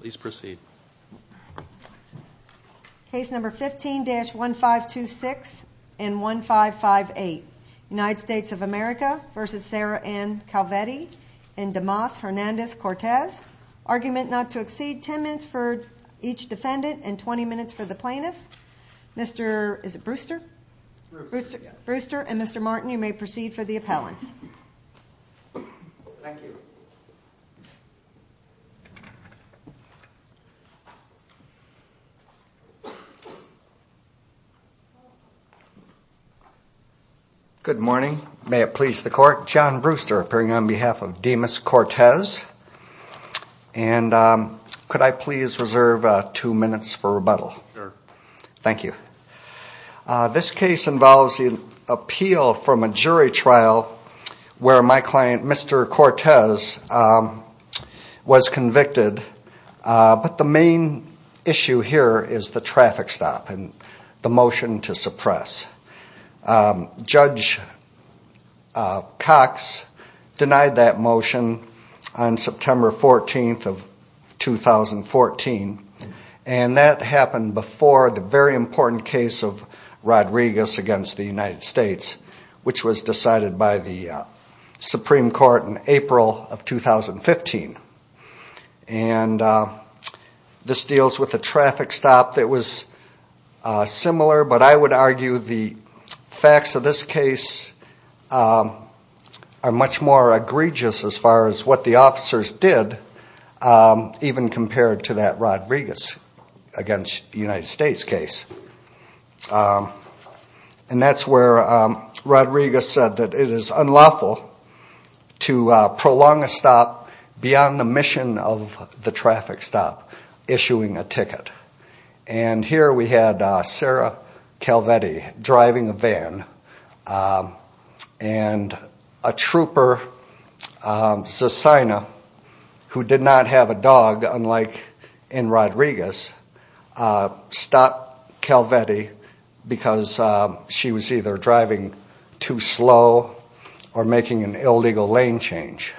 Please proceed Case number 15-1526 and 1558 United States of America versus Sarah Ann Calvetti and Demas Hernandez Cortez Argument not to exceed 10 minutes for each defendant and 20 minutes for the plaintiff Mr.. Is it Brewster? Brewster and Mr.. Martin you may proceed for the appellants You Good morning, may it please the court John Brewster appearing on behalf of Demas Cortez and Could I please reserve two minutes for rebuttal? Thank you This case involves the appeal from a jury trial where my client mr.. Cortez Was convicted But the main issue here is the traffic stop and the motion to suppress judge Cox denied that motion on September 14th of 2014 and that happened before the very important case of Rodriguez against the United States, which was decided by the 2015 and This deals with the traffic stop that was Similar, but I would argue the facts of this case Are much more egregious as far as what the officers did Even compared to that Rodriguez against the United States case and That's where Rodriguez said that it is unlawful To prolong a stop beyond the mission of the traffic stop issuing a ticket and Here we had Sara Calvetti driving a van and a trooper Susanna who did not have a dog unlike in Rodriguez stop Calvetti Because she was either driving too slow or making an illegal lane change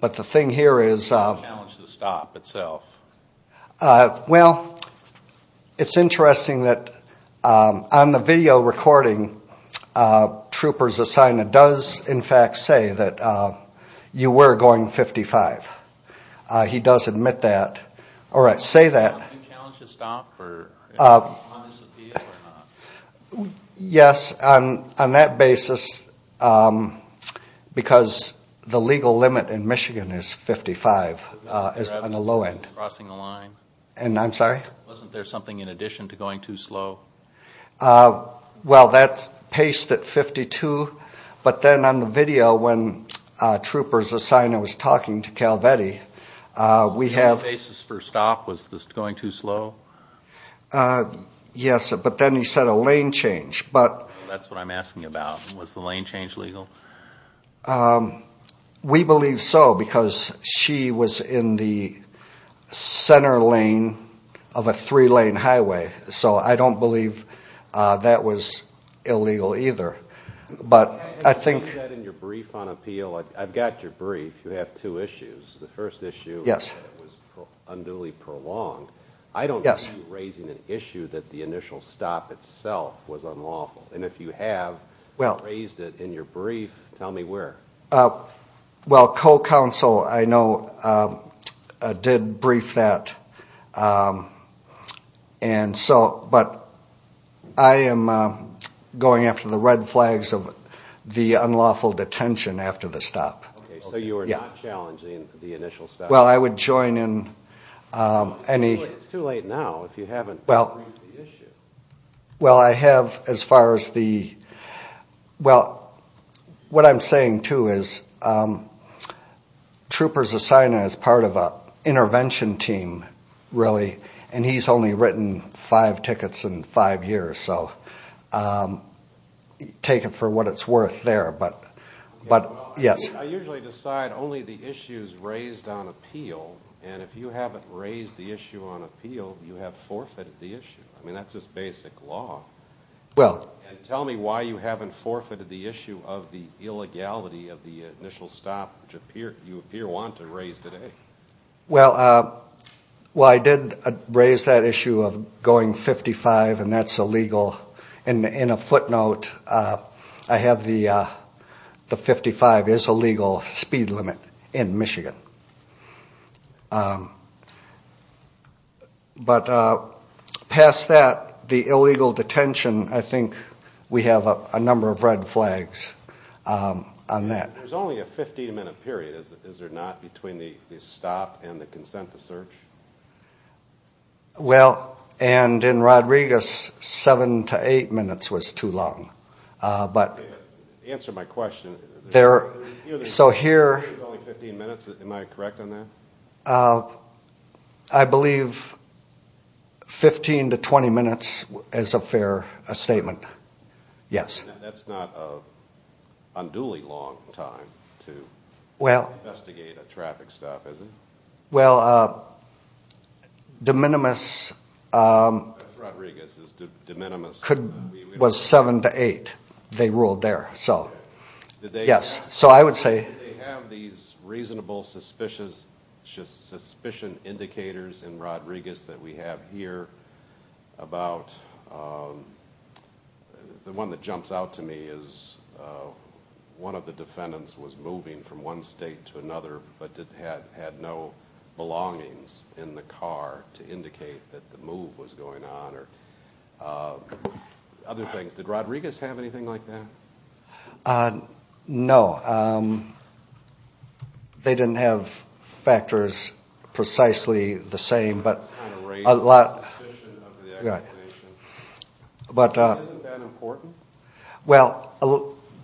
but the thing here is Well It's interesting that on the video recording troopers assign that does in fact say that You were going 55 He does admit that all right say that Yes, I'm on that basis Because the legal limit in Michigan is 55 is on the low end crossing the line and I'm sorry Wasn't there something in addition to going too slow? Well, that's paced at 52, but then on the video when Troopers assign I was talking to Calvetti We have aces for stop was this going too slow? Yes, but then he said a lane change but that's what I'm asking about was the lane change legal We believe so because she was in the Center lane of a three-lane highway, so I don't believe that was Illegal either, but I think in your brief on appeal. I've got your brief. You have two issues the first issue. Yes Unduly prolonged I don't yes raising an issue that the initial stop itself was unlawful And if you have well raised it in your brief tell me where Well co-counsel, I know did brief that and so but I am Going after the red flags of the unlawful detention after the stop You are challenging the initial step well, I would join in Any too late now if you haven't well well, I have as far as the well what I'm saying to is Troopers assign as part of a intervention team really and he's only written five tickets in five years, so Take it for what it's worth there, but but yes Decide only the issues raised on appeal and if you haven't raised the issue on appeal you have forfeited the issue I mean, that's just basic law Well tell me why you haven't forfeited the issue of the illegality of the initial stop which appear you appear want to raise today well Well, I did raise that issue of going 55, and that's illegal and in a footnote. I have the 55 is a legal speed limit in Michigan But Past that the illegal detention. I think we have a number of red flags On that there's only a 15-minute period is there not between the stop and the consent to search Well and in Rodriguez seven to eight minutes was too long But answer my question they're so here I believe 15 to 20 minutes as a fair a statement yes Well Well De minimis Rodriguez is de minimis could was seven to eight they ruled there, so Yes, so I would say reasonable suspicious just suspicion indicators in Rodriguez that we have here about The one that jumps out to me is One of the defendants was moving from one state to another but didn't have had no Belongings in the car to indicate that the move was going on or Other things did Rodriguez have anything like that No They didn't have factors precisely the same but a lot But Well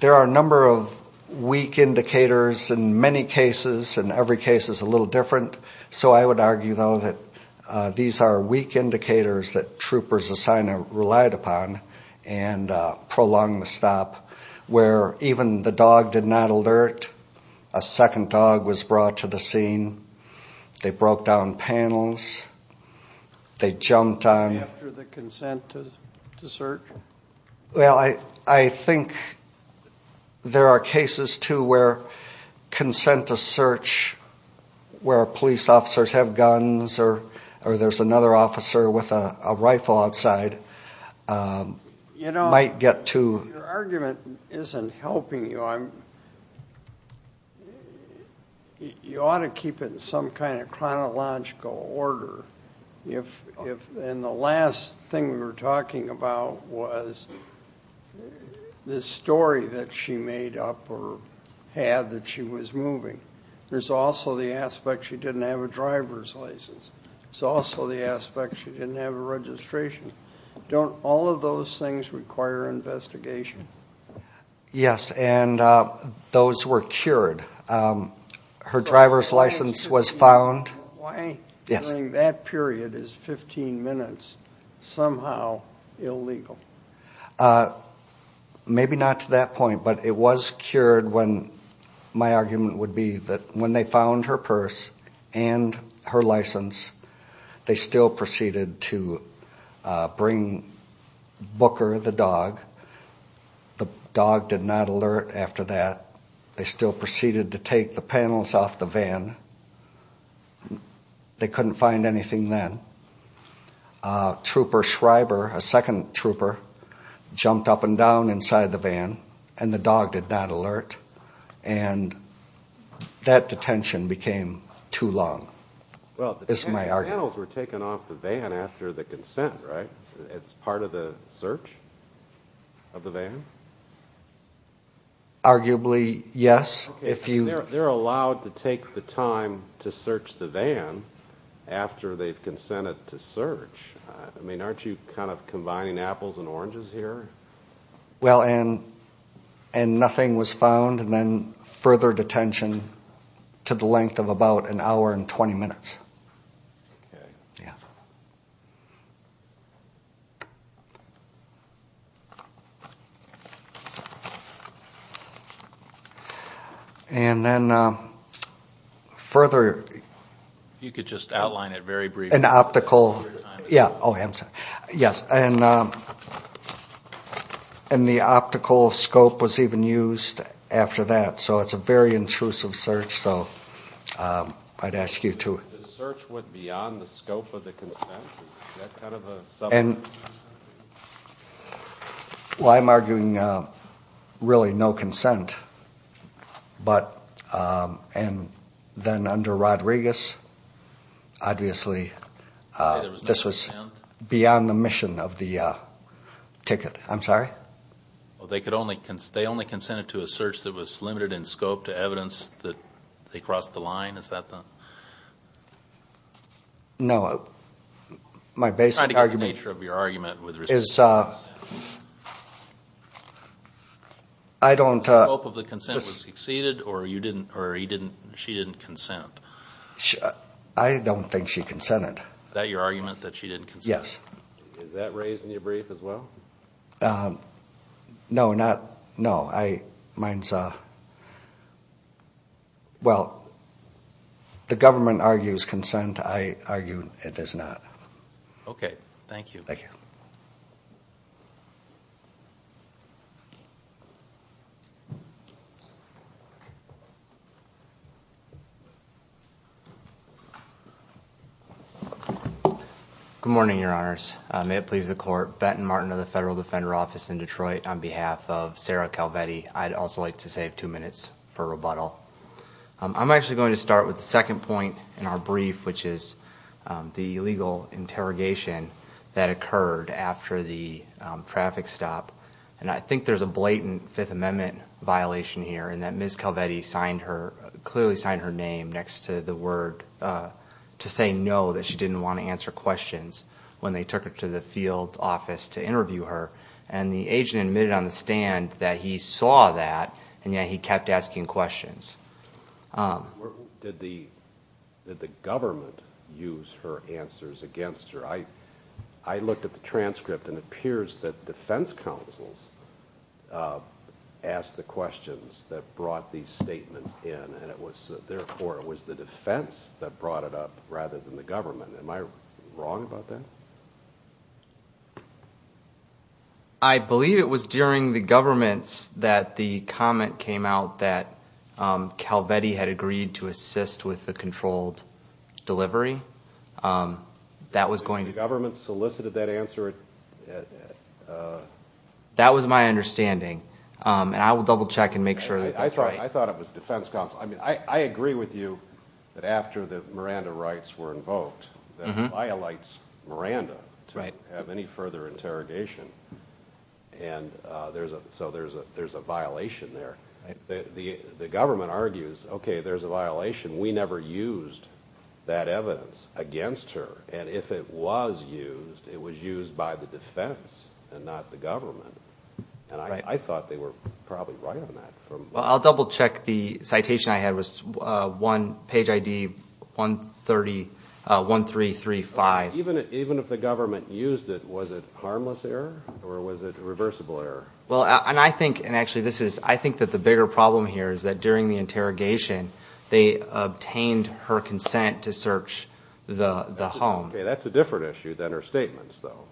There are a number of weak Indicators in many cases and every case is a little different, so I would argue though that these are weak indicators that troopers assign a relied upon and prolonged the stop where even the dog did not alert a Second dog was brought to the scene They broke down panels They jumped on Well I I think There are cases to where consent to search Where police officers have guns or or there's another officer with a rifle outside? You know I get to argument isn't helping you I'm You ought to keep it in some kind of chronological order if if in the last thing we were talking about was The story that she made up or had that she was moving There's also the aspect. She didn't have a driver's license. It's also the aspect. She didn't have a registration Don't all of those things require investigation Yes, and Those were cured Her driver's license was found. Why yes, I mean that period is 15 minutes somehow Illegal Maybe not to that point, but it was cured when my argument would be that when they found her purse and her license They still proceeded to bring Booker the dog The dog did not alert after that they still proceeded to take the panels off the van They couldn't find anything then Trooper Schreiber a second trooper jumped up and down inside the van and the dog did not alert and That detention became too long Well, it's my articles were taken off the van after the consent right it's part of the search of the van Arguably yes, if you they're allowed to take the time to search the van after they've consented to search I mean, aren't you kind of combining apples and oranges here? well, and and Nothing was found and then further detention to the length of about an hour and 20 minutes And then further You could just outline it very brief an optical. Yeah. Oh handsome. Yes, and And the optical scope was even used after that. So it's a very intrusive search. So I'd ask you to And Why I'm arguing really no consent but and Then under Rodriguez obviously this was beyond the mission of the Ticket, I'm sorry Well, they could only can stay only consented to a search that was limited in scope to evidence that they crossed the line. Is that them? No, my basic nature of your argument with her is I I Don't hope of the consensus exceeded or you didn't or he didn't she didn't consent. I Don't think she consented that your argument that she didn't yes No, not no I mines, uh Well, the government argues consent I argued it is not okay. Thank you. Thank you You Good morning, your honors may it please the court Benton Martin of the Federal Defender Office in Detroit on behalf of Sarah Calvetti I'd also like to save two minutes for rebuttal I'm actually going to start with the second point in our brief, which is the legal interrogation that occurred after the Traffic stop and I think there's a blatant Fifth Amendment Violation here and that ms. Calvetti signed her clearly signed her name next to the word To say no that she didn't want to answer questions When they took her to the field office to interview her and the agent admitted on the stand that he saw that And yeah, he kept asking questions Did the Did the government use her answers against her? I looked at the transcript and appears that defense counsel's Asked the questions that brought these statements in and it was therefore it was the defense that brought it up rather than the government Am I wrong about that? I Believe it was during the government's that the comment came out that Calvetti had agreed to assist with the controlled delivery That was going to government solicited that answer That was my understanding And I will double-check and make sure that I thought I thought it was defense counsel I mean, I I agree with you that after the Miranda rights were invoked violates Miranda, right have any further interrogation and There's a so there's a there's a violation there the the government argues. Okay, there's a violation. We never used that Evidence against her and if it was used it was used by the defense and not the government And I thought they were probably right on that. Well, I'll double-check the citation. I had was one page ID 130 1335 even even if the government used it was it harmless error or was it reversible error? well, and I think and actually this is I think that the bigger problem here is that during the interrogation they Obtained her consent to search the the home. Okay, that's a different issue than her statements though.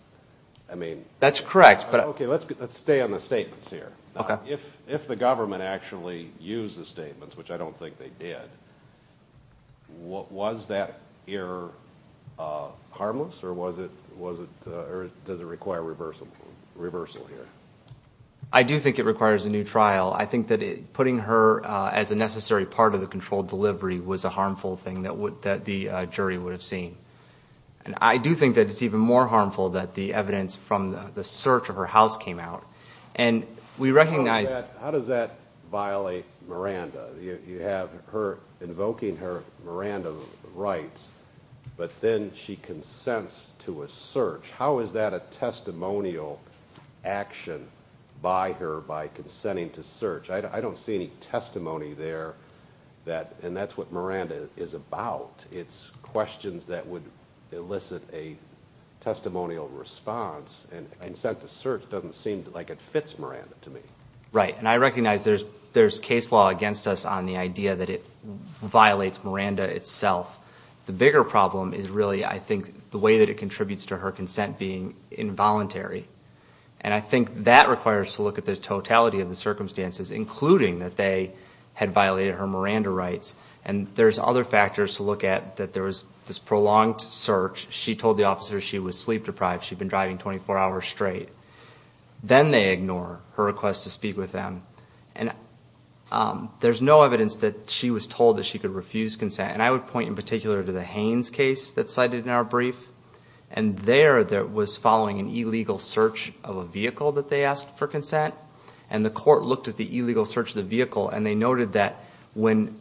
I mean, that's correct But okay, let's get let's stay on the statements here. Okay, if if the government actually used the statements, which I don't think they did What was that here? Harmless or was it was it or does it require reversible reversal here? I Do think it requires a new trial I think that it putting her as a necessary part of the controlled delivery was a harmful thing that would that the jury would have Seen and I do think that it's even more harmful that the evidence from the search of her house came out and we recognize How does that violate Miranda you have her invoking her Miranda rights? But then she consents to a search. How is that a testimonial Action by her by consenting to search I don't see any testimony there That and that's what Miranda is about. It's questions that would elicit a Testimonial response and consent to search doesn't seem like it fits Miranda to me, right? And I recognize there's there's case law against us on the idea that it Violates Miranda itself. The bigger problem is really I think the way that it contributes to her consent being Involuntary and I think that requires to look at the totality of the circumstances Including that they had violated her Miranda rights and there's other factors to look at that There was this prolonged search. She told the officer she was sleep-deprived. She'd been driving 24 hours straight then they ignore her request to speak with them and There's no evidence that she was told that she could refuse consent and I would point in particular to the Haynes case that cited in our brief and there that was following an illegal search of a vehicle that they asked for consent and the court looked at the illegal search of the vehicle and they noted that when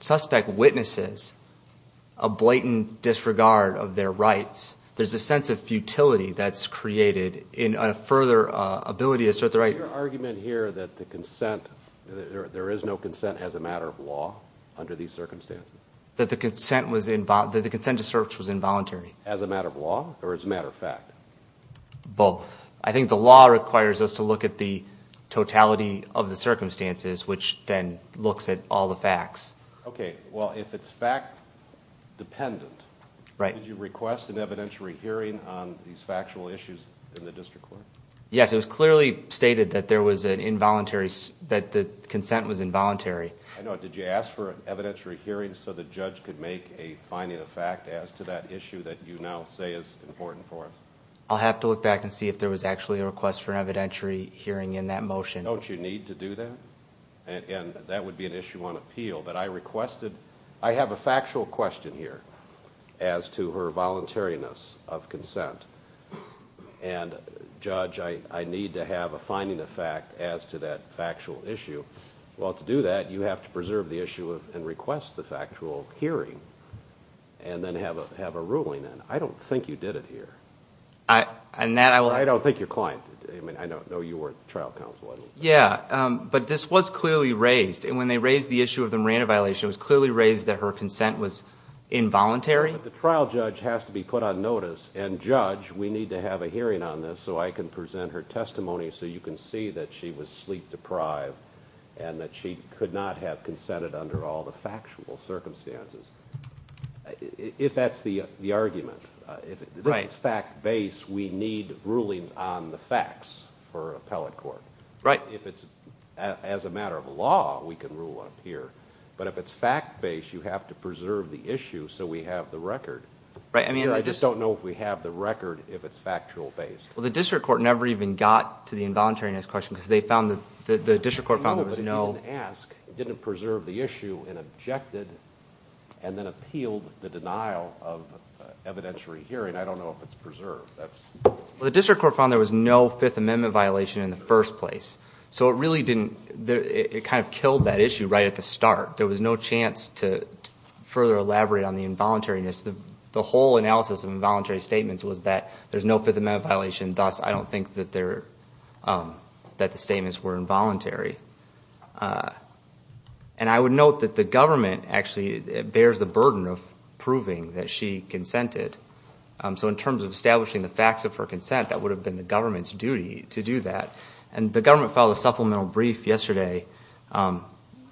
suspect witnesses a Blatant disregard of their rights. There's a sense of futility that's created in a further Ability to assert the right argument here that the consent There is no consent as a matter of law Under these circumstances that the consent was involved that the consent to search was involuntary as a matter of law or as a matter of fact Both I think the law requires us to look at the totality of the circumstances which then looks at all the facts Okay. Well if it's fact Dependent right you request an evidentiary hearing on these factual issues in the district court Yes, it was clearly stated that there was an involuntary that the consent was involuntary I know did you ask for an evidentiary hearing so the judge could make a finding of fact as to that issue that you now Important for us. I'll have to look back and see if there was actually a request for evidentiary hearing in that motion Don't you need to do that? And that would be an issue on appeal that I requested. I have a factual question here as to her voluntariness of consent and Judge I need to have a finding of fact as to that factual issue well to do that you have to preserve the issue of and request the factual hearing and Have a have a ruling and I don't think you did it here. I And that I don't think your client. I mean, I don't know you weren't the trial counsel Yeah, but this was clearly raised and when they raised the issue of the Miranda violation was clearly raised that her consent was Involuntary the trial judge has to be put on notice and judge We need to have a hearing on this so I can present her testimony So you can see that she was sleep-deprived and that she could not have consented under all the factual circumstances If that's the the argument right fact base We need rulings on the facts for appellate court, right? If it's as a matter of law, we can rule up here But if it's fact-based you have to preserve the issue. So we have the record, right? I mean, I just don't know if we have the record if it's factual based Well, the district court never even got to the involuntariness question because they found that the district court found there was no Didn't preserve the issue and objected And then appealed the denial of evidentiary hearing. I don't know if it's preserved That's well, the district court found there was no Fifth Amendment violation in the first place So it really didn't there it kind of killed that issue right at the start. There was no chance to Further elaborate on the involuntariness the the whole analysis of involuntary statements was that there's no Fifth Amendment violation. Thus I don't think that they're That the statements were involuntary and I would note that the government actually bears the burden of proving that she consented So in terms of establishing the facts of her consent That would have been the government's duty to do that and the government filed a supplemental brief yesterday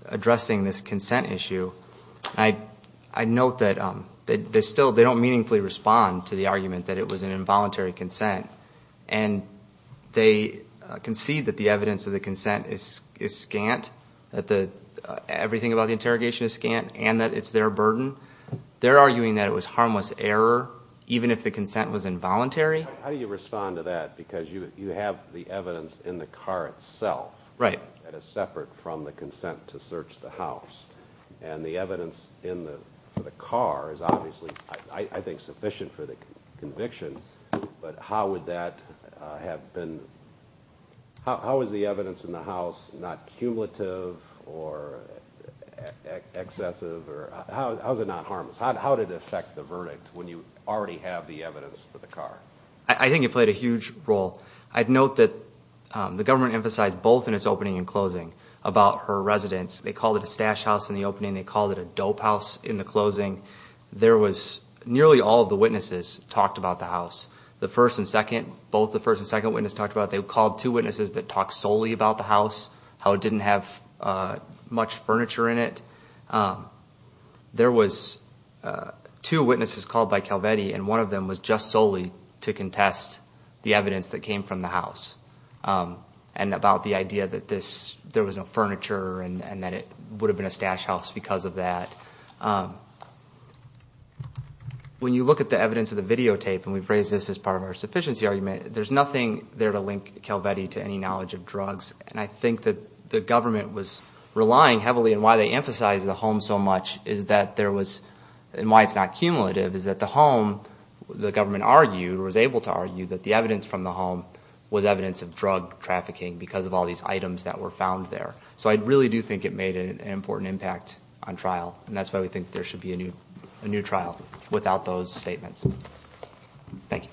Addressing this consent issue. I note that they still they don't meaningfully respond to the argument that it was an involuntary consent and they Concede that the evidence of the consent is is scant that the Everything about the interrogation is scant and that it's their burden They're arguing that it was harmless error Even if the consent was involuntary, how do you respond to that because you you have the evidence in the car itself, right? That is separate from the consent to search the house and the evidence in the for the car is obviously I think sufficient for the conviction, but how would that have been? how is the evidence in the house not cumulative or Excessive or how's it not harmless? How did it affect the verdict when you already have the evidence for the car? I think it played a huge role. I'd note that The government emphasized both in its opening and closing about her residence. They called it a stash house in the opening They called it a dope house in the closing There was nearly all of the witnesses talked about the house the first and second both the first and second witness talked about they called Witnesses that talked solely about the house how it didn't have much furniture in it There was Two witnesses called by Calvetti and one of them was just solely to contest the evidence that came from the house And about the idea that this there was no furniture and that it would have been a stash house because of that When you look at the evidence of the videotape and we've raised this as part of our sufficiency argument There's nothing there to link Calvetti to any knowledge of drugs And I think that the government was Relying heavily and why they emphasize the home so much is that there was and why it's not cumulative is that the home? The government argued was able to argue that the evidence from the home Was evidence of drug trafficking because of all these items that were found there So I really do think it made an important impact on trial And that's why we think there should be a new a new trial without those statements Thank you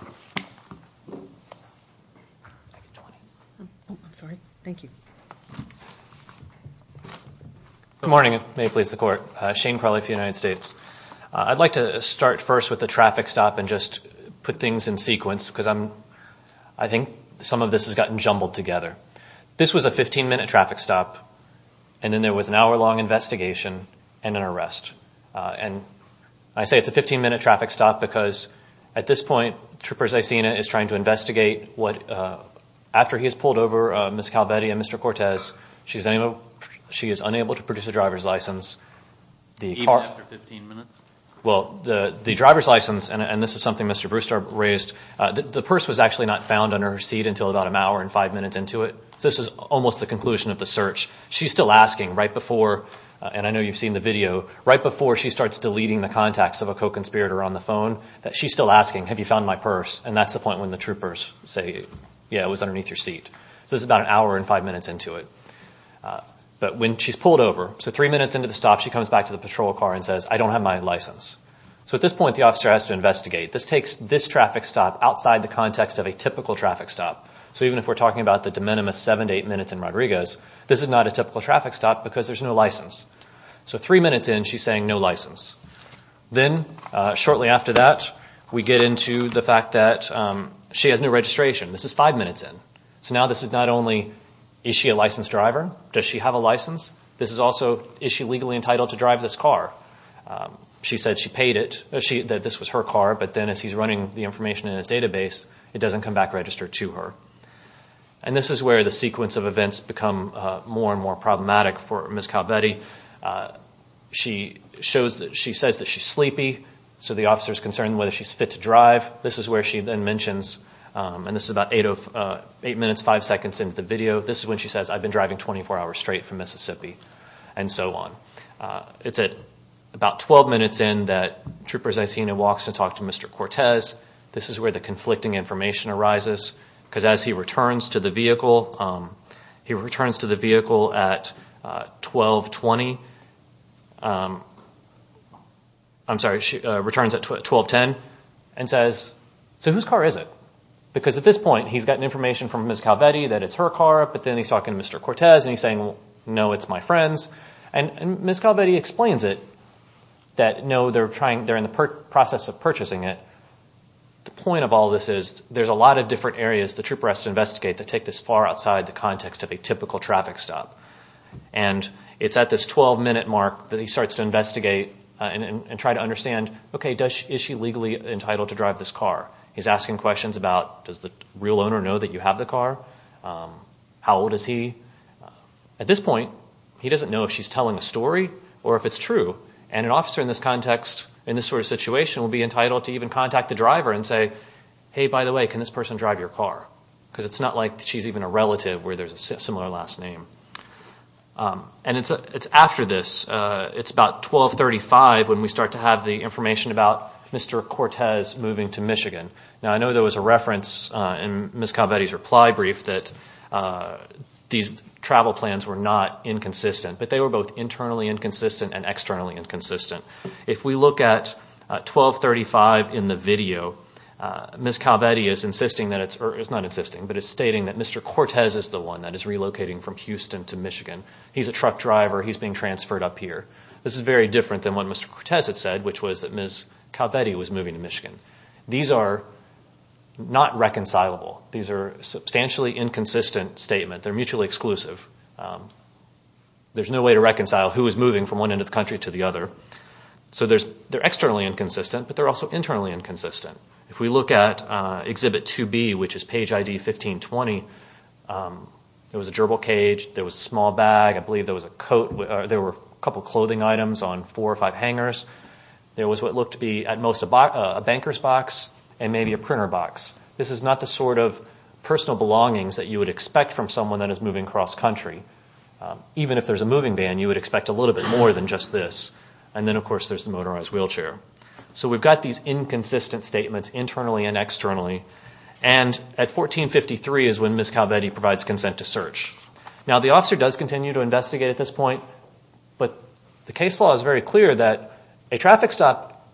I Sorry, thank you Good morning may please the court Shane Carly for United States I'd like to start first with the traffic stop and just put things in sequence because I'm I Think some of this has gotten jumbled together This was a 15-minute traffic stop and then there was an hour-long investigation and an arrest And I say it's a 15-minute traffic stop because at this point troopers. I seen it is trying to investigate what? After he has pulled over miss Calvetti and mr. Cortez. She's a no. She is unable to produce a driver's license the Well the the driver's license and this is something mr. Raised the purse was actually not found under her seat until about an hour and five minutes into it This is almost the conclusion of the search She's still asking right before And I know you've seen the video right before she starts deleting the contacts of a co-conspirator on the phone That she's still asking have you found my purse? And that's the point when the troopers say yeah, it was underneath your seat. This is about an hour and five minutes into it But when she's pulled over so three minutes into the stop She comes back to the patrol car and says I don't have my license So at this point the officer has to investigate this takes this traffic stop outside the context of a typical traffic stop So even if we're talking about the de minimis seven to eight minutes in Rodriguez This is not a typical traffic stop because there's no license. So three minutes in she's saying no license Then shortly after that we get into the fact that She has no registration. This is five minutes in so now this is not only is she a licensed driver? Does she have a license? This is also is she legally entitled to drive this car? She said she paid it she that this was her car But then as he's running the information in his database, it doesn't come back registered to her And this is where the sequence of events become more and more problematic for Miss Calvetti She shows that she says that she's sleepy. So the officer is concerned whether she's fit to drive This is where she then mentions and this is about eight of eight minutes five seconds into the video This is when she says I've been driving 24 hours straight from Mississippi and so on It's at about 12 minutes in that troopers I seen it walks to talk to mr. Cortez This is where the conflicting information arises because as he returns to the vehicle he returns to the vehicle at 1220 I'm sorry, she returns at 1210 and says so whose car is it? Because at this point he's gotten information from Miss Calvetti that it's her car, but then he's talking to mr. Cortez and he's saying No, it's my friends and Miss Calvetti explains it that No, they're trying they're in the process of purchasing it the point of all this is there's a lot of different areas the trooper has to investigate to take this far outside the context of a typical traffic stop and It's at this 12-minute mark that he starts to investigate and try to understand. Okay, does she is she legally entitled to drive this car? He's asking questions about does the real owner know that you have the car? How old is he At this point He doesn't know if she's telling a story or if it's true and an officer in this context in this sort of situation will be entitled To even contact the driver and say hey, by the way Can this person drive your car because it's not like she's even a relative where there's a similar last name And it's a it's after this. It's about 1235 when we start to have the information about mr Cortez moving to Michigan now I know there was a reference in Miss Calvetti's reply brief that These travel plans were not inconsistent, but they were both internally inconsistent and externally inconsistent if we look at 1235 in the video Miss Calvetti is insisting that it's not insisting but it's stating that mr. Cortez is the one that is relocating from Houston to Michigan He's a truck driver. He's being transferred up here. This is very different than what mr Cortez had said which was that miss Calvetti was moving to Michigan. These are Not reconcilable. These are substantially inconsistent statement. They're mutually exclusive There's no way to reconcile who is moving from one end of the country to the other So there's they're externally inconsistent, but they're also internally inconsistent if we look at exhibit to be which is page ID 1520 There was a gerbil cage. There was a small bag I believe there was a coat there were a couple clothing items on four or five hangers There was what looked to be at most about a banker's box and maybe a printer box This is not the sort of personal belongings that you would expect from someone that is moving cross-country Even if there's a moving ban, you would expect a little bit more than just this and then of course There's the motorized wheelchair. So we've got these inconsistent statements internally and externally and At 1453 is when miss Calvetti provides consent to search now the officer does continue to investigate at this point But the case law is very clear that a traffic stop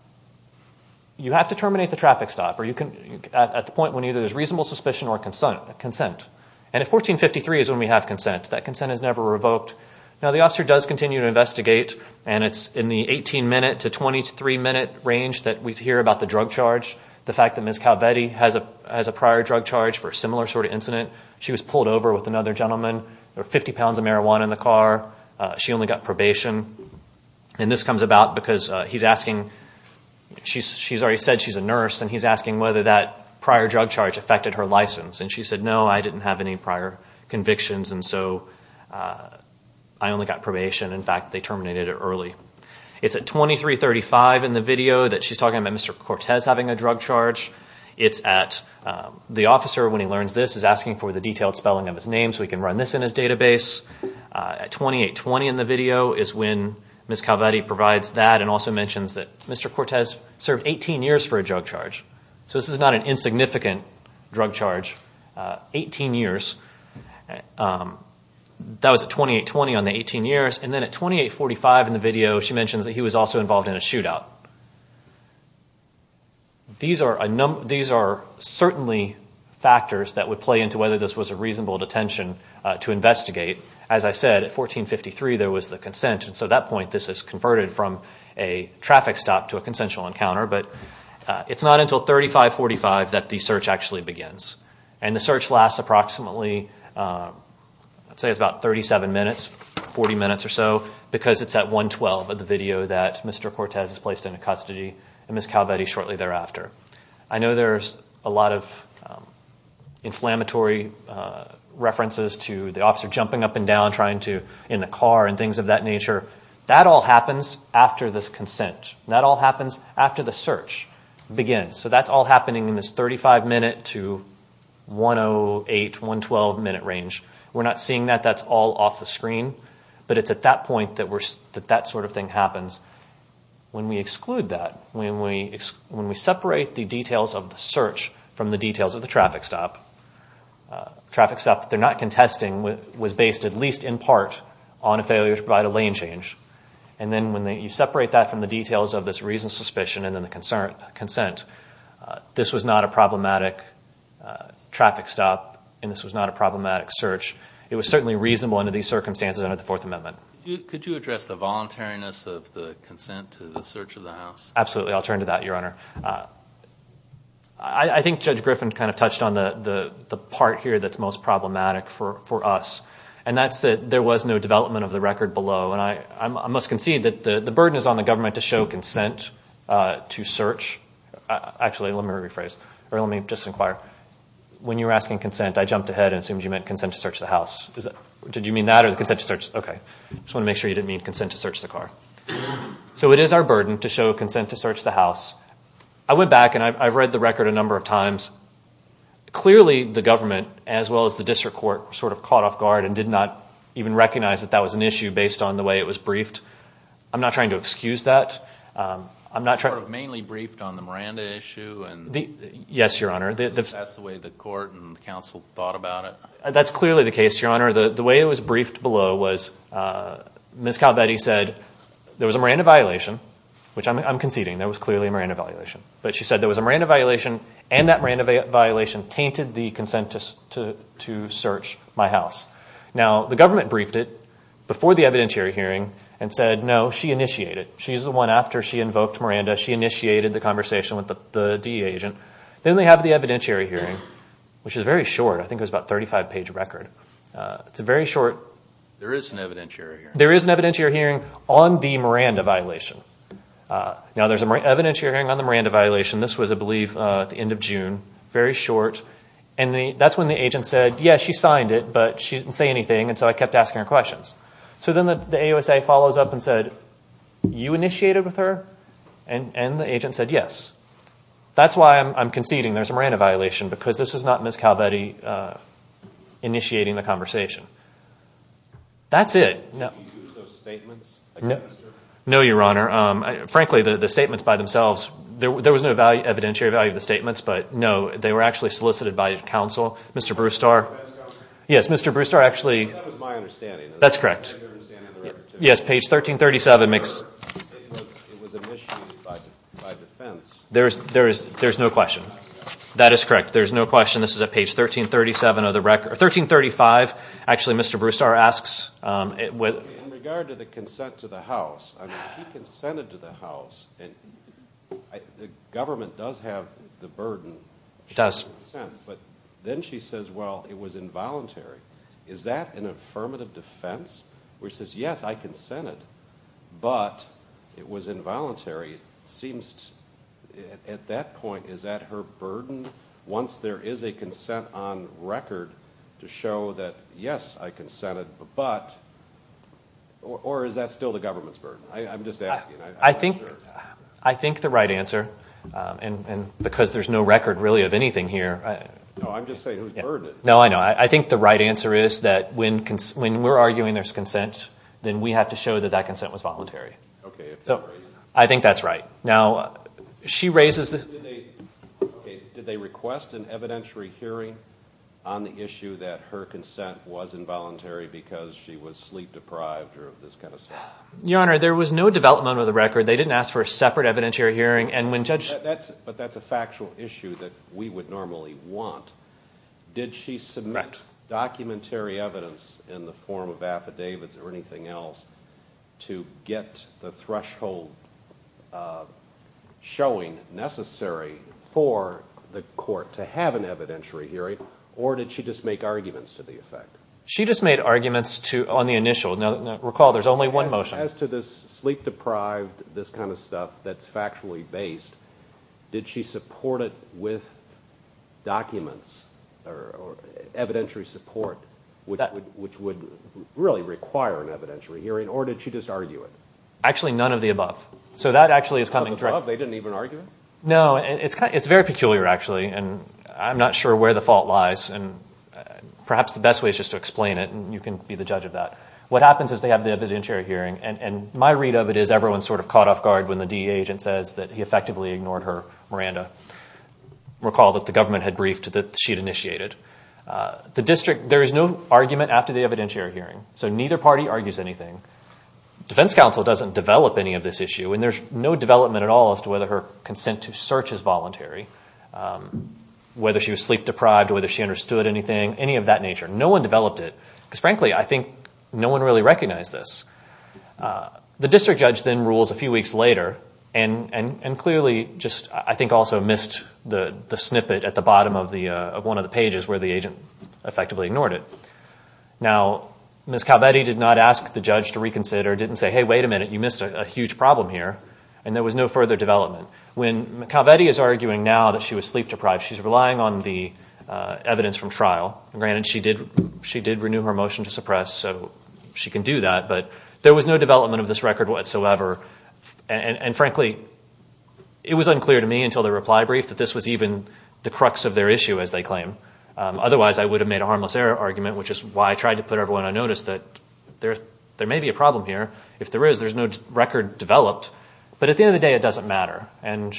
You have to terminate the traffic stop or you can at the point when either there's reasonable suspicion or consent consent And if 1453 is when we have consent that consent has never revoked now The officer does continue to investigate and it's in the 18 minute to 23 minute range that we hear about the drug charge The fact that miss Calvetti has a as a prior drug charge for a similar sort of incident She was pulled over with another gentleman or 50 pounds of marijuana in the car She only got probation and this comes about because he's asking She's she's already said she's a nurse and he's asking whether that prior drug charge affected her license and she said no I didn't have any prior convictions. And so I Only got probation. In fact, they terminated it early. It's at 2335 in the video that she's talking about. Mr Cortez having a drug charge It's at the officer when he learns this is asking for the detailed spelling of his name so he can run this in his database At 2820 in the video is when miss Calvetti provides that and also mentions that mr Cortez served 18 years for a drug charge. So this is not an insignificant drug charge 18 years That was at 2820 on the 18 years and then at 2845 in the video she mentions that he was also involved in a shootout These are a number these are certainly Factors that would play into whether this was a reasonable detention to investigate as I said at 1453 there was the consent and so that point this is converted from a traffic stop to a consensual encounter, but It's not until 3545 that the search actually begins and the search lasts approximately Let's say it's about 37 minutes 40 minutes or so because it's at 112 of the video that mr Cortez is placed into custody and miss Calvetti shortly thereafter. I know there's a lot of Inflammatory References to the officer jumping up and down trying to in the car and things of that nature That all happens after this consent that all happens after the search begins, so that's all happening in this 35 minute to 108 112 minute range, we're not seeing that that's all off the screen But it's at that point that we're that that sort of thing happens When we exclude that when we when we separate the details of the search from the details of the traffic stop traffic stuff they're not contesting with was based at least in part on a failure to provide a lane change and Then when they you separate that from the details of this reason suspicion and then the concern consent This was not a problematic Traffic stop and this was not a problematic search. It was certainly reasonable under these circumstances under the Fourth Amendment Could you address the voluntariness of the consent to the search of the house? Absolutely. I'll turn to that your honor. I Think judge Griffin kind of touched on the the the part here That's most problematic for for us and that's that there was no development of the record below and I I must concede that the the burden Is on the government to show consent? to search Actually, let me rephrase or let me just inquire When you were asking consent, I jumped ahead and assumed you meant consent to search the house Did you mean that or the consent to search? Okay, I just want to make sure you didn't mean consent to search the car So it is our burden to show consent to search the house. I went back and I've read the record a number of times Clearly the government as well as the district court sort of caught off guard and did not Even recognize that that was an issue based on the way it was briefed. I'm not trying to excuse that I'm not trying to mainly briefed on the Miranda issue and the yes, your honor That's the way the court and the council thought about it, that's clearly the case your honor the the way it was briefed below was Miss Calvetti said there was a Miranda violation, which I'm conceding there was clearly a Miranda violation But she said there was a Miranda violation and that Miranda violation tainted the consent to Search my house. Now the government briefed it before the evidentiary hearing and said no she initiated She's the one after she invoked Miranda Initiated the conversation with the DEA agent then they have the evidentiary hearing which is very short. I think it was about 35 page record It's a very short. There is an evidentiary. There is an evidentiary hearing on the Miranda violation Now there's a more evidentiary hearing on the Miranda violation This was a belief at the end of June very short and the that's when the agent said yes She signed it, but she didn't say anything and so I kept asking her questions. So then the AOS a follows up and said You initiated with her and and the agent said yes That's why I'm conceding. There's a Miranda violation because this is not Miss Calvetti Initiating the conversation That's it No, your honor Frankly the the statements by themselves there was no value evidentiary value of the statements, but no they were actually solicited by the council. Mr. Brewster Yes, mr. Brewster actually That's correct Yes, page 1337 makes There's there is there's no question that is correct. There's no question. This is a page 1337 of the record 1335 Actually, mr. Brewster asks it with Consented to the house and The government does have the burden does Then she says well it was involuntary. Is that an affirmative defense? Which says yes, I consented But it was involuntary seems At that point. Is that her burden once there is a consent on record to show that yes I consented but Or is that still the government's burden? I'm just asking I think I think the right answer And and because there's no record really of anything here I'm just saying no. I know I think the right answer is that when when we're arguing there's consent Then we have to show that that consent was voluntary. Okay, so I think that's right now she raises Did they request an evidentiary hearing on the issue that her consent was involuntary Because she was sleep-deprived or of this kind of stuff your honor. There was no development of the record They didn't ask for a separate evidentiary hearing and when judge that's but that's a factual issue that we would normally want Did she submit? Documentary evidence in the form of affidavits or anything else to get the threshold Showing necessary for the court to have an evidentiary hearing or did she just make arguments to the effect? She just made arguments to on the initial now recall There's only one motion as to this sleep-deprived this kind of stuff. That's factually based Did she support it with? Documents or Evidentiary support with that which would really require an evidentiary hearing or did she just argue it actually none of the above So that actually is coming drug. They didn't even argue. No, it's it's very peculiar actually, and I'm not sure where the fault lies and Perhaps the best way is just to explain it and you can be the judge of that What happens is they have the evidentiary hearing and and my read of it is everyone's sort of caught off guard when the DEA agent Says that he effectively ignored her Miranda Recall that the government had briefed that she'd initiated The district there is no argument after the evidentiary hearing so neither party argues anything Defense counsel doesn't develop any of this issue and there's no development at all as to whether her consent to search is voluntary Whether she was sleep-deprived or whether she understood anything any of that nature. No one developed it because frankly I think no one really recognized this The district judge then rules a few weeks later and and and clearly just I think also missed the Snippet at the bottom of the of one of the pages where the agent effectively ignored it Now miss Calvetti did not ask the judge to reconsider didn't say hey, wait a minute You missed a huge problem here and there was no further development when Calvetti is arguing now that she was sleep-deprived. She's relying on the Evidence from trial and granted she did she did renew her motion to suppress so she can do that There was no development of this record whatsoever and and frankly It was unclear to me until the reply brief that this was even the crux of their issue as they claim Otherwise, I would have made a harmless error argument Which is why I tried to put everyone I noticed that There there may be a problem here if there is there's no record developed, but at the end of the day It doesn't matter and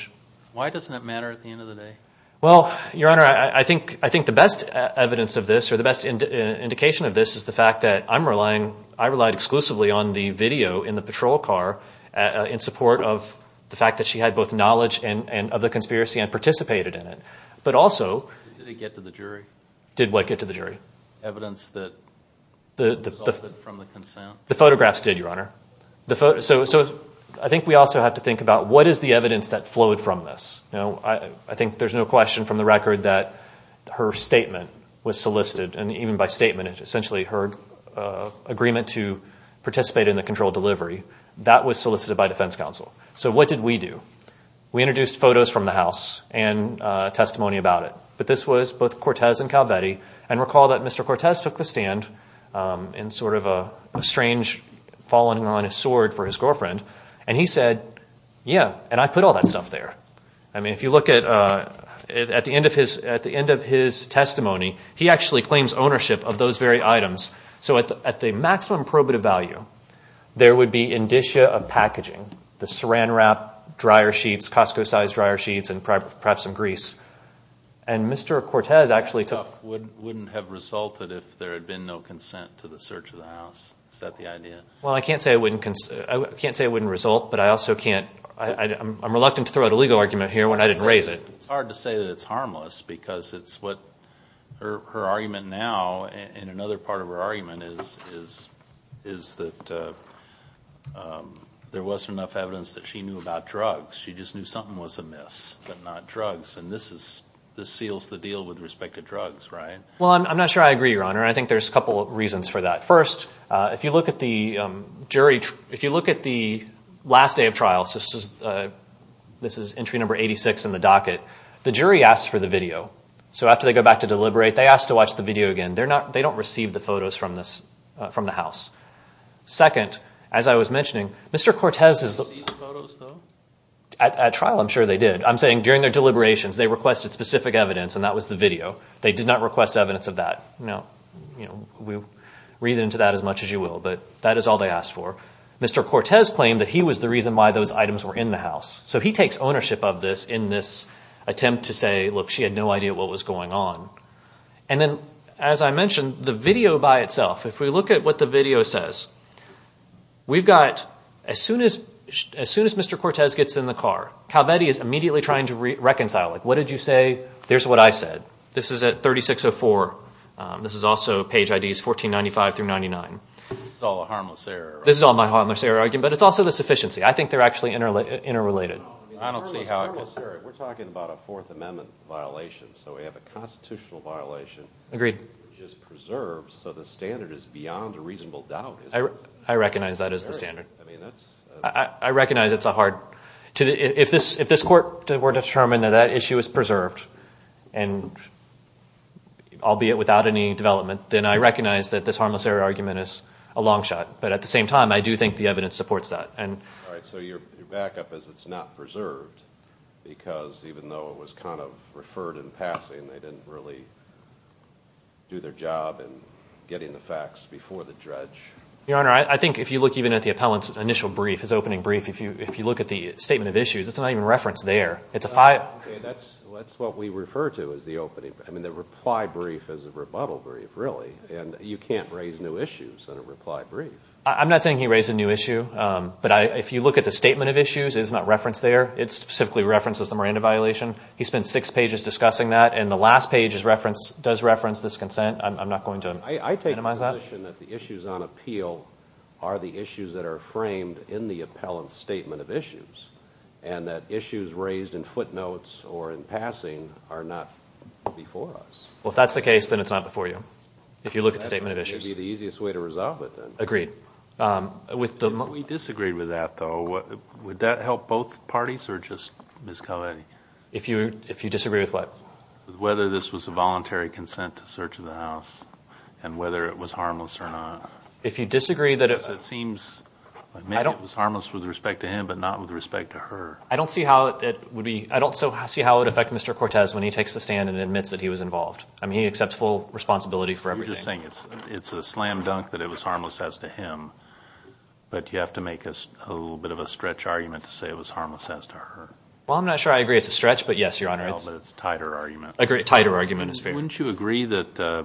why doesn't it matter at the end of the day? Well, your honor, I think I think the best evidence of this or the best Indication of this is the fact that I'm relying I relied exclusively on the video in the patrol car In support of the fact that she had both knowledge and and of the conspiracy and participated in it but also Did what get to the jury evidence that the The photographs did your honor the photo? So so I think we also have to think about what is the evidence that flowed from this? I think there's no question from the record that her statement was solicited and even by statement. It's essentially her Agreement to participate in the control delivery that was solicited by Defense Council. So what did we do? we introduced photos from the house and Testimony about it, but this was both Cortez and Calvetti and recall that. Mr. Cortez took the stand in sort of a strange Falling on his sword for his girlfriend and he said yeah, and I put all that stuff there I mean if you look at At the end of his at the end of his testimony. He actually claims ownership of those very items So at the maximum probative value there would be indicia of packaging the saran wrap dryer sheets Costco sized dryer sheets and perhaps some grease and Mr. Cortez actually took wouldn't have resulted if there had been no consent to the search of the house Well, I can't say I wouldn't I can't say it wouldn't result but I also can't I'm reluctant to throw out a legal argument here when I didn't raise it it's hard to say that it's harmless because it's what her argument now and another part of her argument is is is that There wasn't enough evidence that she knew about drugs She just knew something was amiss but not drugs and this is this seals the deal with respect to drugs, right? Well, I'm not sure I agree your honor. I think there's a couple of reasons for that first if you look at the jury If you look at the last day of trials, this is This is entry number 86 in the docket. The jury asked for the video So after they go back to deliberate they asked to watch the video again, they're not they don't receive the photos from this from the house Second as I was mentioning, mr. Cortez is At trial, I'm sure they did I'm saying during their deliberations They requested specific evidence and that was the video they did not request evidence of that You know, we read into that as much as you will but that is all they asked for Mr. Cortez claimed that he was the reason why those items were in the house So he takes ownership of this in this attempt to say look she had no idea what was going on And then as I mentioned the video by itself if we look at what the video says We've got as soon as as soon as mr. Cortez gets in the car. Calvetti is immediately trying to reconcile Like what did you say? There's what I said, this is at 3604 This is also page IDs 1495 through 99 This is all my heartless error again, but it's also the sufficiency. I think they're actually interlaced interrelated Violation so we have a constitutional violation agreed So the standard is beyond a reasonable doubt. I recognize that as the standard. I recognize it's a hard to if this if this court were determined that that issue is preserved and I'll be it without any development. Then I recognize that this harmless error argument is a long shot But at the same time I do think the evidence supports that and so you're back up as it's not preserved Because even though it was kind of referred in passing they didn't really Do their job and getting the facts before the dredge your honor I think if you look even at the appellants initial brief his opening brief if you if you look at the statement of issues It's not even referenced there. It's a fire That's what we refer to as the opening I mean the reply brief is a rebuttal brief really and you can't raise new issues on a reply brief I'm not saying he raised a new issue, but I if you look at the statement of issues is not referenced there It's simply references the Miranda violation He spent six pages discussing that and the last page is referenced does reference this consent I'm not going to minimize that the issues on appeal are the issues that are framed in the appellant statement of issues and Issues raised in footnotes or in passing are not Well, if that's the case, then it's not before you if you look at the statement of issues It'd be the easiest way to resolve it then agreed With them we disagreed with that though. What would that help both parties or just miss Kelly? If you if you disagree with what whether this was a voluntary consent to search of the house And whether it was harmless or not if you disagree that it seems I don't harmless with respect to him, but not with respect to her. I don't see how it would be I don't so I see how it affect mr. Cortez when he takes the stand and admits that he was involved I mean he accepts full responsibility for everything It's it's a slam-dunk that it was harmless as to him But you have to make us a little bit of a stretch argument to say it was harmless as to her well I'm not sure I agree. It's a stretch, but yes, your honor. It's tighter argument a great tighter argument is fair wouldn't you agree that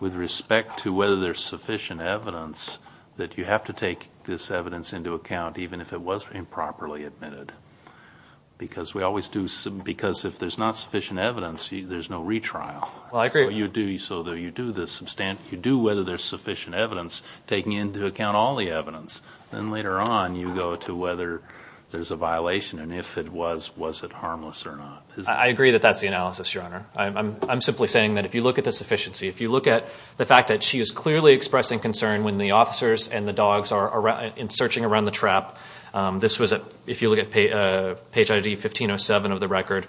With respect to whether there's sufficient evidence that you have to take this evidence into account even if it wasn't improperly admitted Because we always do some because if there's not sufficient evidence. There's no retrial well I agree you do so though you do this substant you do whether there's sufficient evidence Taking into account all the evidence then later on you go to whether There's a violation and if it was was it harmless or not I agree that that's the analysis your honor I'm simply saying that if you look at the sufficiency if you look at the fact that she is clearly expressing concern when the Officers and the dogs are around in searching around the trap This was a if you look at page ID 1507 of the record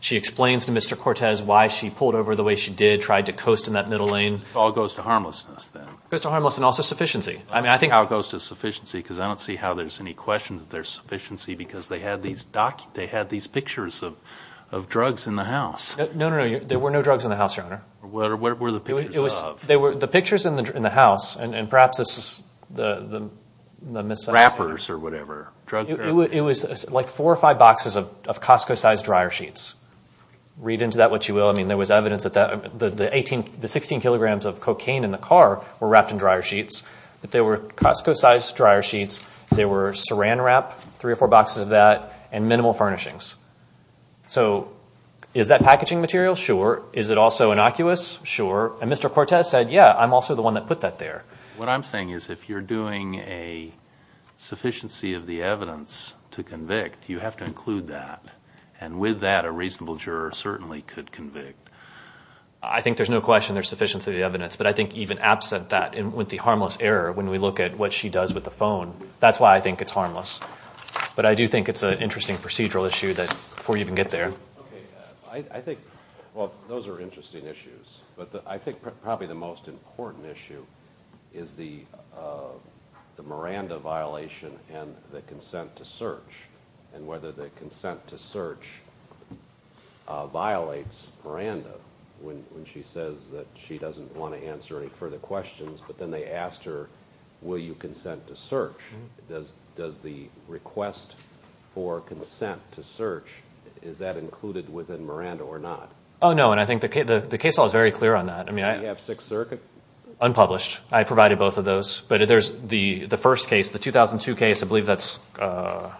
She explains to mr. Cortez why she pulled over the way she did tried to coast in that middle lane all goes to harmlessness Then mr. Harmless and also sufficiency I mean, I think how it goes to sufficiency because I don't see how there's any question that there's sufficiency because they had these doc they Had these pictures of of drugs in the house. No, no, there were no drugs in the house your honor What are what were the people it was they were the pictures in the house and perhaps this is the the? Wrappers or whatever drug it was like four or five boxes of Costco sized dryer sheets Read into that what you will I mean there was evidence that that the the 18 the 16 kilograms of cocaine in the car were wrapped In dryer sheets, but there were Costco sized dryer sheets There were saran wrap three or four boxes of that and minimal furnishings So is that packaging material? Sure. Is it also innocuous? Sure. And mr. Cortez said yeah I'm also the one that put that there. What I'm saying is if you're doing a Sufficiency of the evidence to convict you have to include that and with that a reasonable juror certainly could convict. I Think there's no question There's sufficiency the evidence But I think even absent that and with the harmless error when we look at what she does with the phone That's why I think it's harmless But I do think it's an interesting procedural issue that before you even get there I think well, those are interesting issues, but I think probably the most important issue is the The Miranda violation and the consent to search and whether the consent to search Violates Miranda when she says that she doesn't want to answer any further questions, but then they asked her Will you consent to search does does the request for consent to search? Is that included within Miranda or not? Oh, no, and I think the case the case all is very clear on that I mean, I have six circuit unpublished I provided both of those but there's the the first case the 2002 case. I believe that's I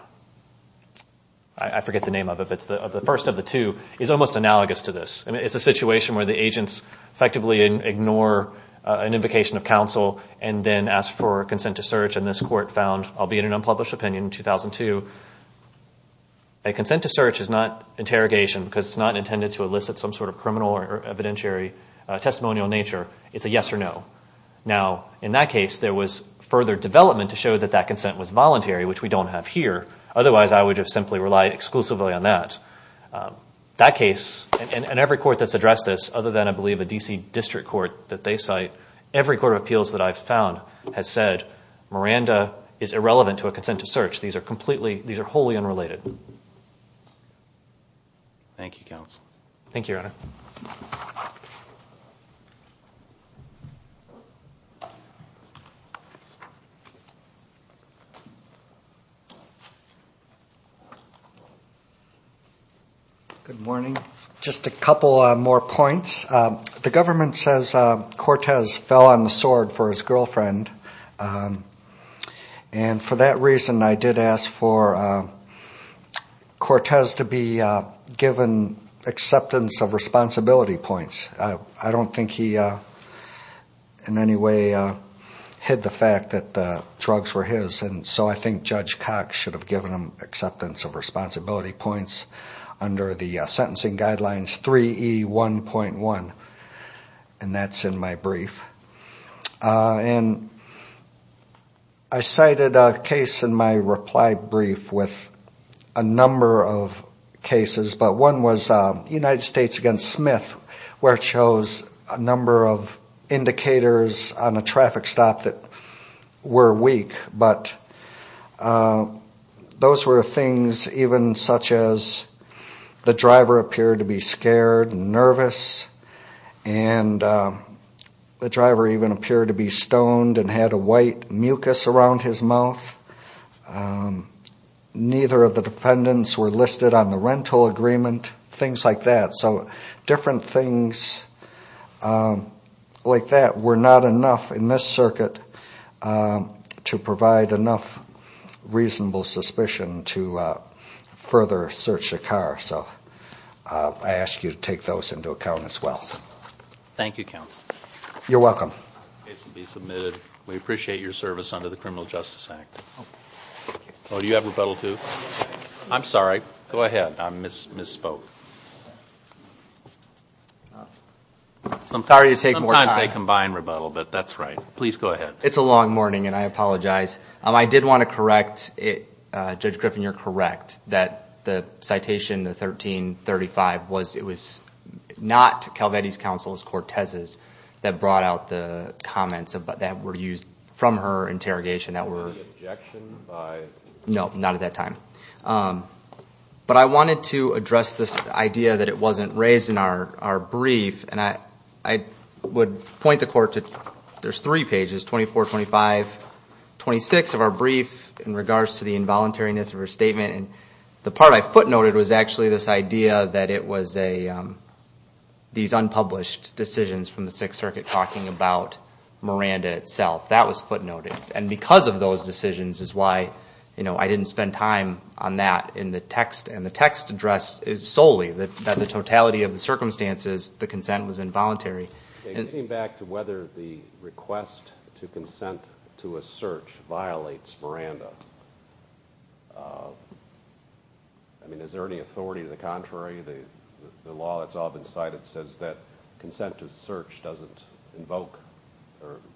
First of the two is almost analogous to this and it's a situation where the agents effectively ignore an invocation of counsel and then ask for consent to search and this court found I'll be in an unpublished opinion in 2002 a Consent to search is not interrogation because it's not intended to elicit some sort of criminal or evidentiary Testimonial nature it's a yes or no Now in that case there was further development to show that that consent was voluntary, which we don't have here Otherwise, I would have simply relied exclusively on that That case and every court that's addressed this other than I believe a DC district court that they cite Every court of appeals that I've found has said Miranda is irrelevant to a consent to search. These are completely these are wholly unrelated Thank You counts, thank you Good Morning just a couple more points. The government says Cortez fell on the sword for his girlfriend and for that reason I did ask for Cortez to be given acceptance of responsibility points. I don't think he in any way Hid the fact that the drugs were his and so I think judge Cox should have given him acceptance of responsibility points under the sentencing guidelines 3 e 1.1 and That's in my brief and I Cited a case in my reply brief with a number of cases but one was United States against Smith where it shows a number of Indicators on a traffic stop that were weak, but Those were things even such as the driver appeared to be scared and nervous and The driver even appeared to be stoned and had a white mucus around his mouth Neither of the defendants were listed on the rental agreement things like that. So different things Like that we're not enough in this circuit to provide enough reasonable suspicion to further search the car, so I ask you to take those into account as well Thank you. Counts. You're welcome We appreciate your service under the Criminal Justice Act Well, do you have rebuttal to I'm sorry. Go ahead. I'm miss misspoke I'm sorry to take more times. They combine rebuttal, but that's right. Please go ahead It's a long morning and I apologize. I did want to correct it judge Griffin You're correct that the citation the 1335 was it was not Calvetti's counsel as Cortez's that brought out the comments of but that were used from her interrogation that were No, not at that time But I wanted to address this idea that it wasn't raised in our our brief and I I Would point the court to there's three pages 24 25 26 of our brief in regards to the involuntariness of her statement and the part I footnoted was actually this idea that it was a these unpublished decisions from the Sixth Circuit talking about Miranda itself that was footnoted and because of those decisions is why you know I didn't spend time on that in the text and the text address is solely that the totality of the circumstances The consent was involuntary and came back to whether the request to consent to a search violates Miranda I Mean is there any authority to the contrary the the law that's all been cited says that Consentive search doesn't invoke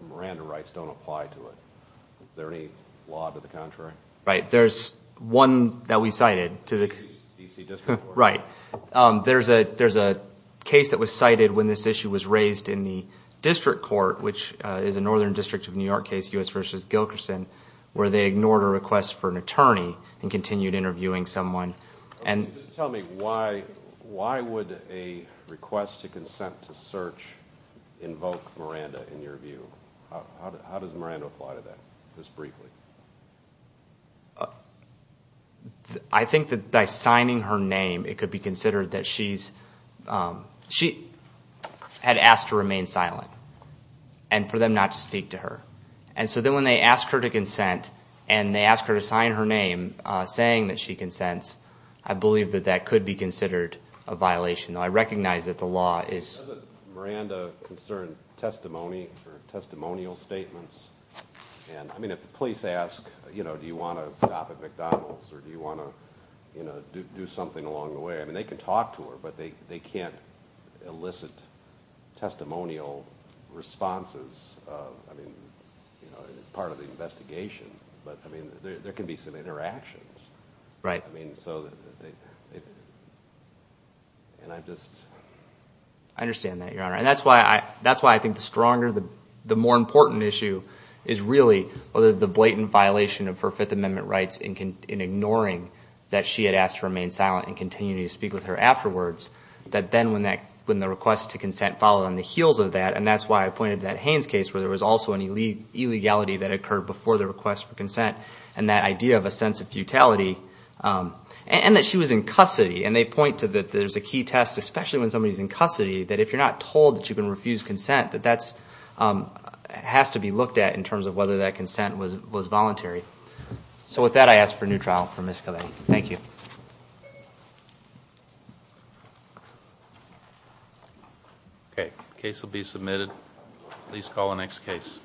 Miranda rights don't apply to it. Is there any law to the contrary? Right? There's one that we cited to the right There's a there's a case that was cited when this issue was raised in the district court Which is a northern district of New York case us versus Gilkerson where they ignored a request for an attorney and continued interviewing someone and tell me why why would a Request to consent to search invoke Miranda in your view. How does Miranda apply to that just briefly? I Think that by signing her name it could be considered that she's she had asked to remain silent and For them not to speak to her and so then when they asked her to consent and they asked her to sign her name Saying that she consents. I believe that that could be considered a violation I recognize that the law is Miranda concern testimony for testimonial statements And I mean if the police ask, you know, do you want to stop at McDonald's or do you want to you know? Do something along the way. I mean they can talk to her, but they they can't elicit testimonial responses Part of the investigation, but I mean there can be some interactions, right? I mean so I Understand that your honor and that's why I that's why I think the stronger the the more important issue is Really? Whether the blatant violation of her Fifth Amendment rights in can in ignoring that she had asked to remain silent and continue to speak with Her afterwards that then when that when the request to consent followed on the heels of that and that's why I pointed that Haines case Where there was also an elite Illegality that occurred before the request for consent and that idea of a sense of futility And that she was in custody and they point to that there's a key test especially when somebody's in custody that if you're not told that you can refuse consent that that's Has to be looked at in terms of whether that consent was was voluntary So with that I ask for a new trial for miss Kelly. Thank you Okay case will be submitted please call the next case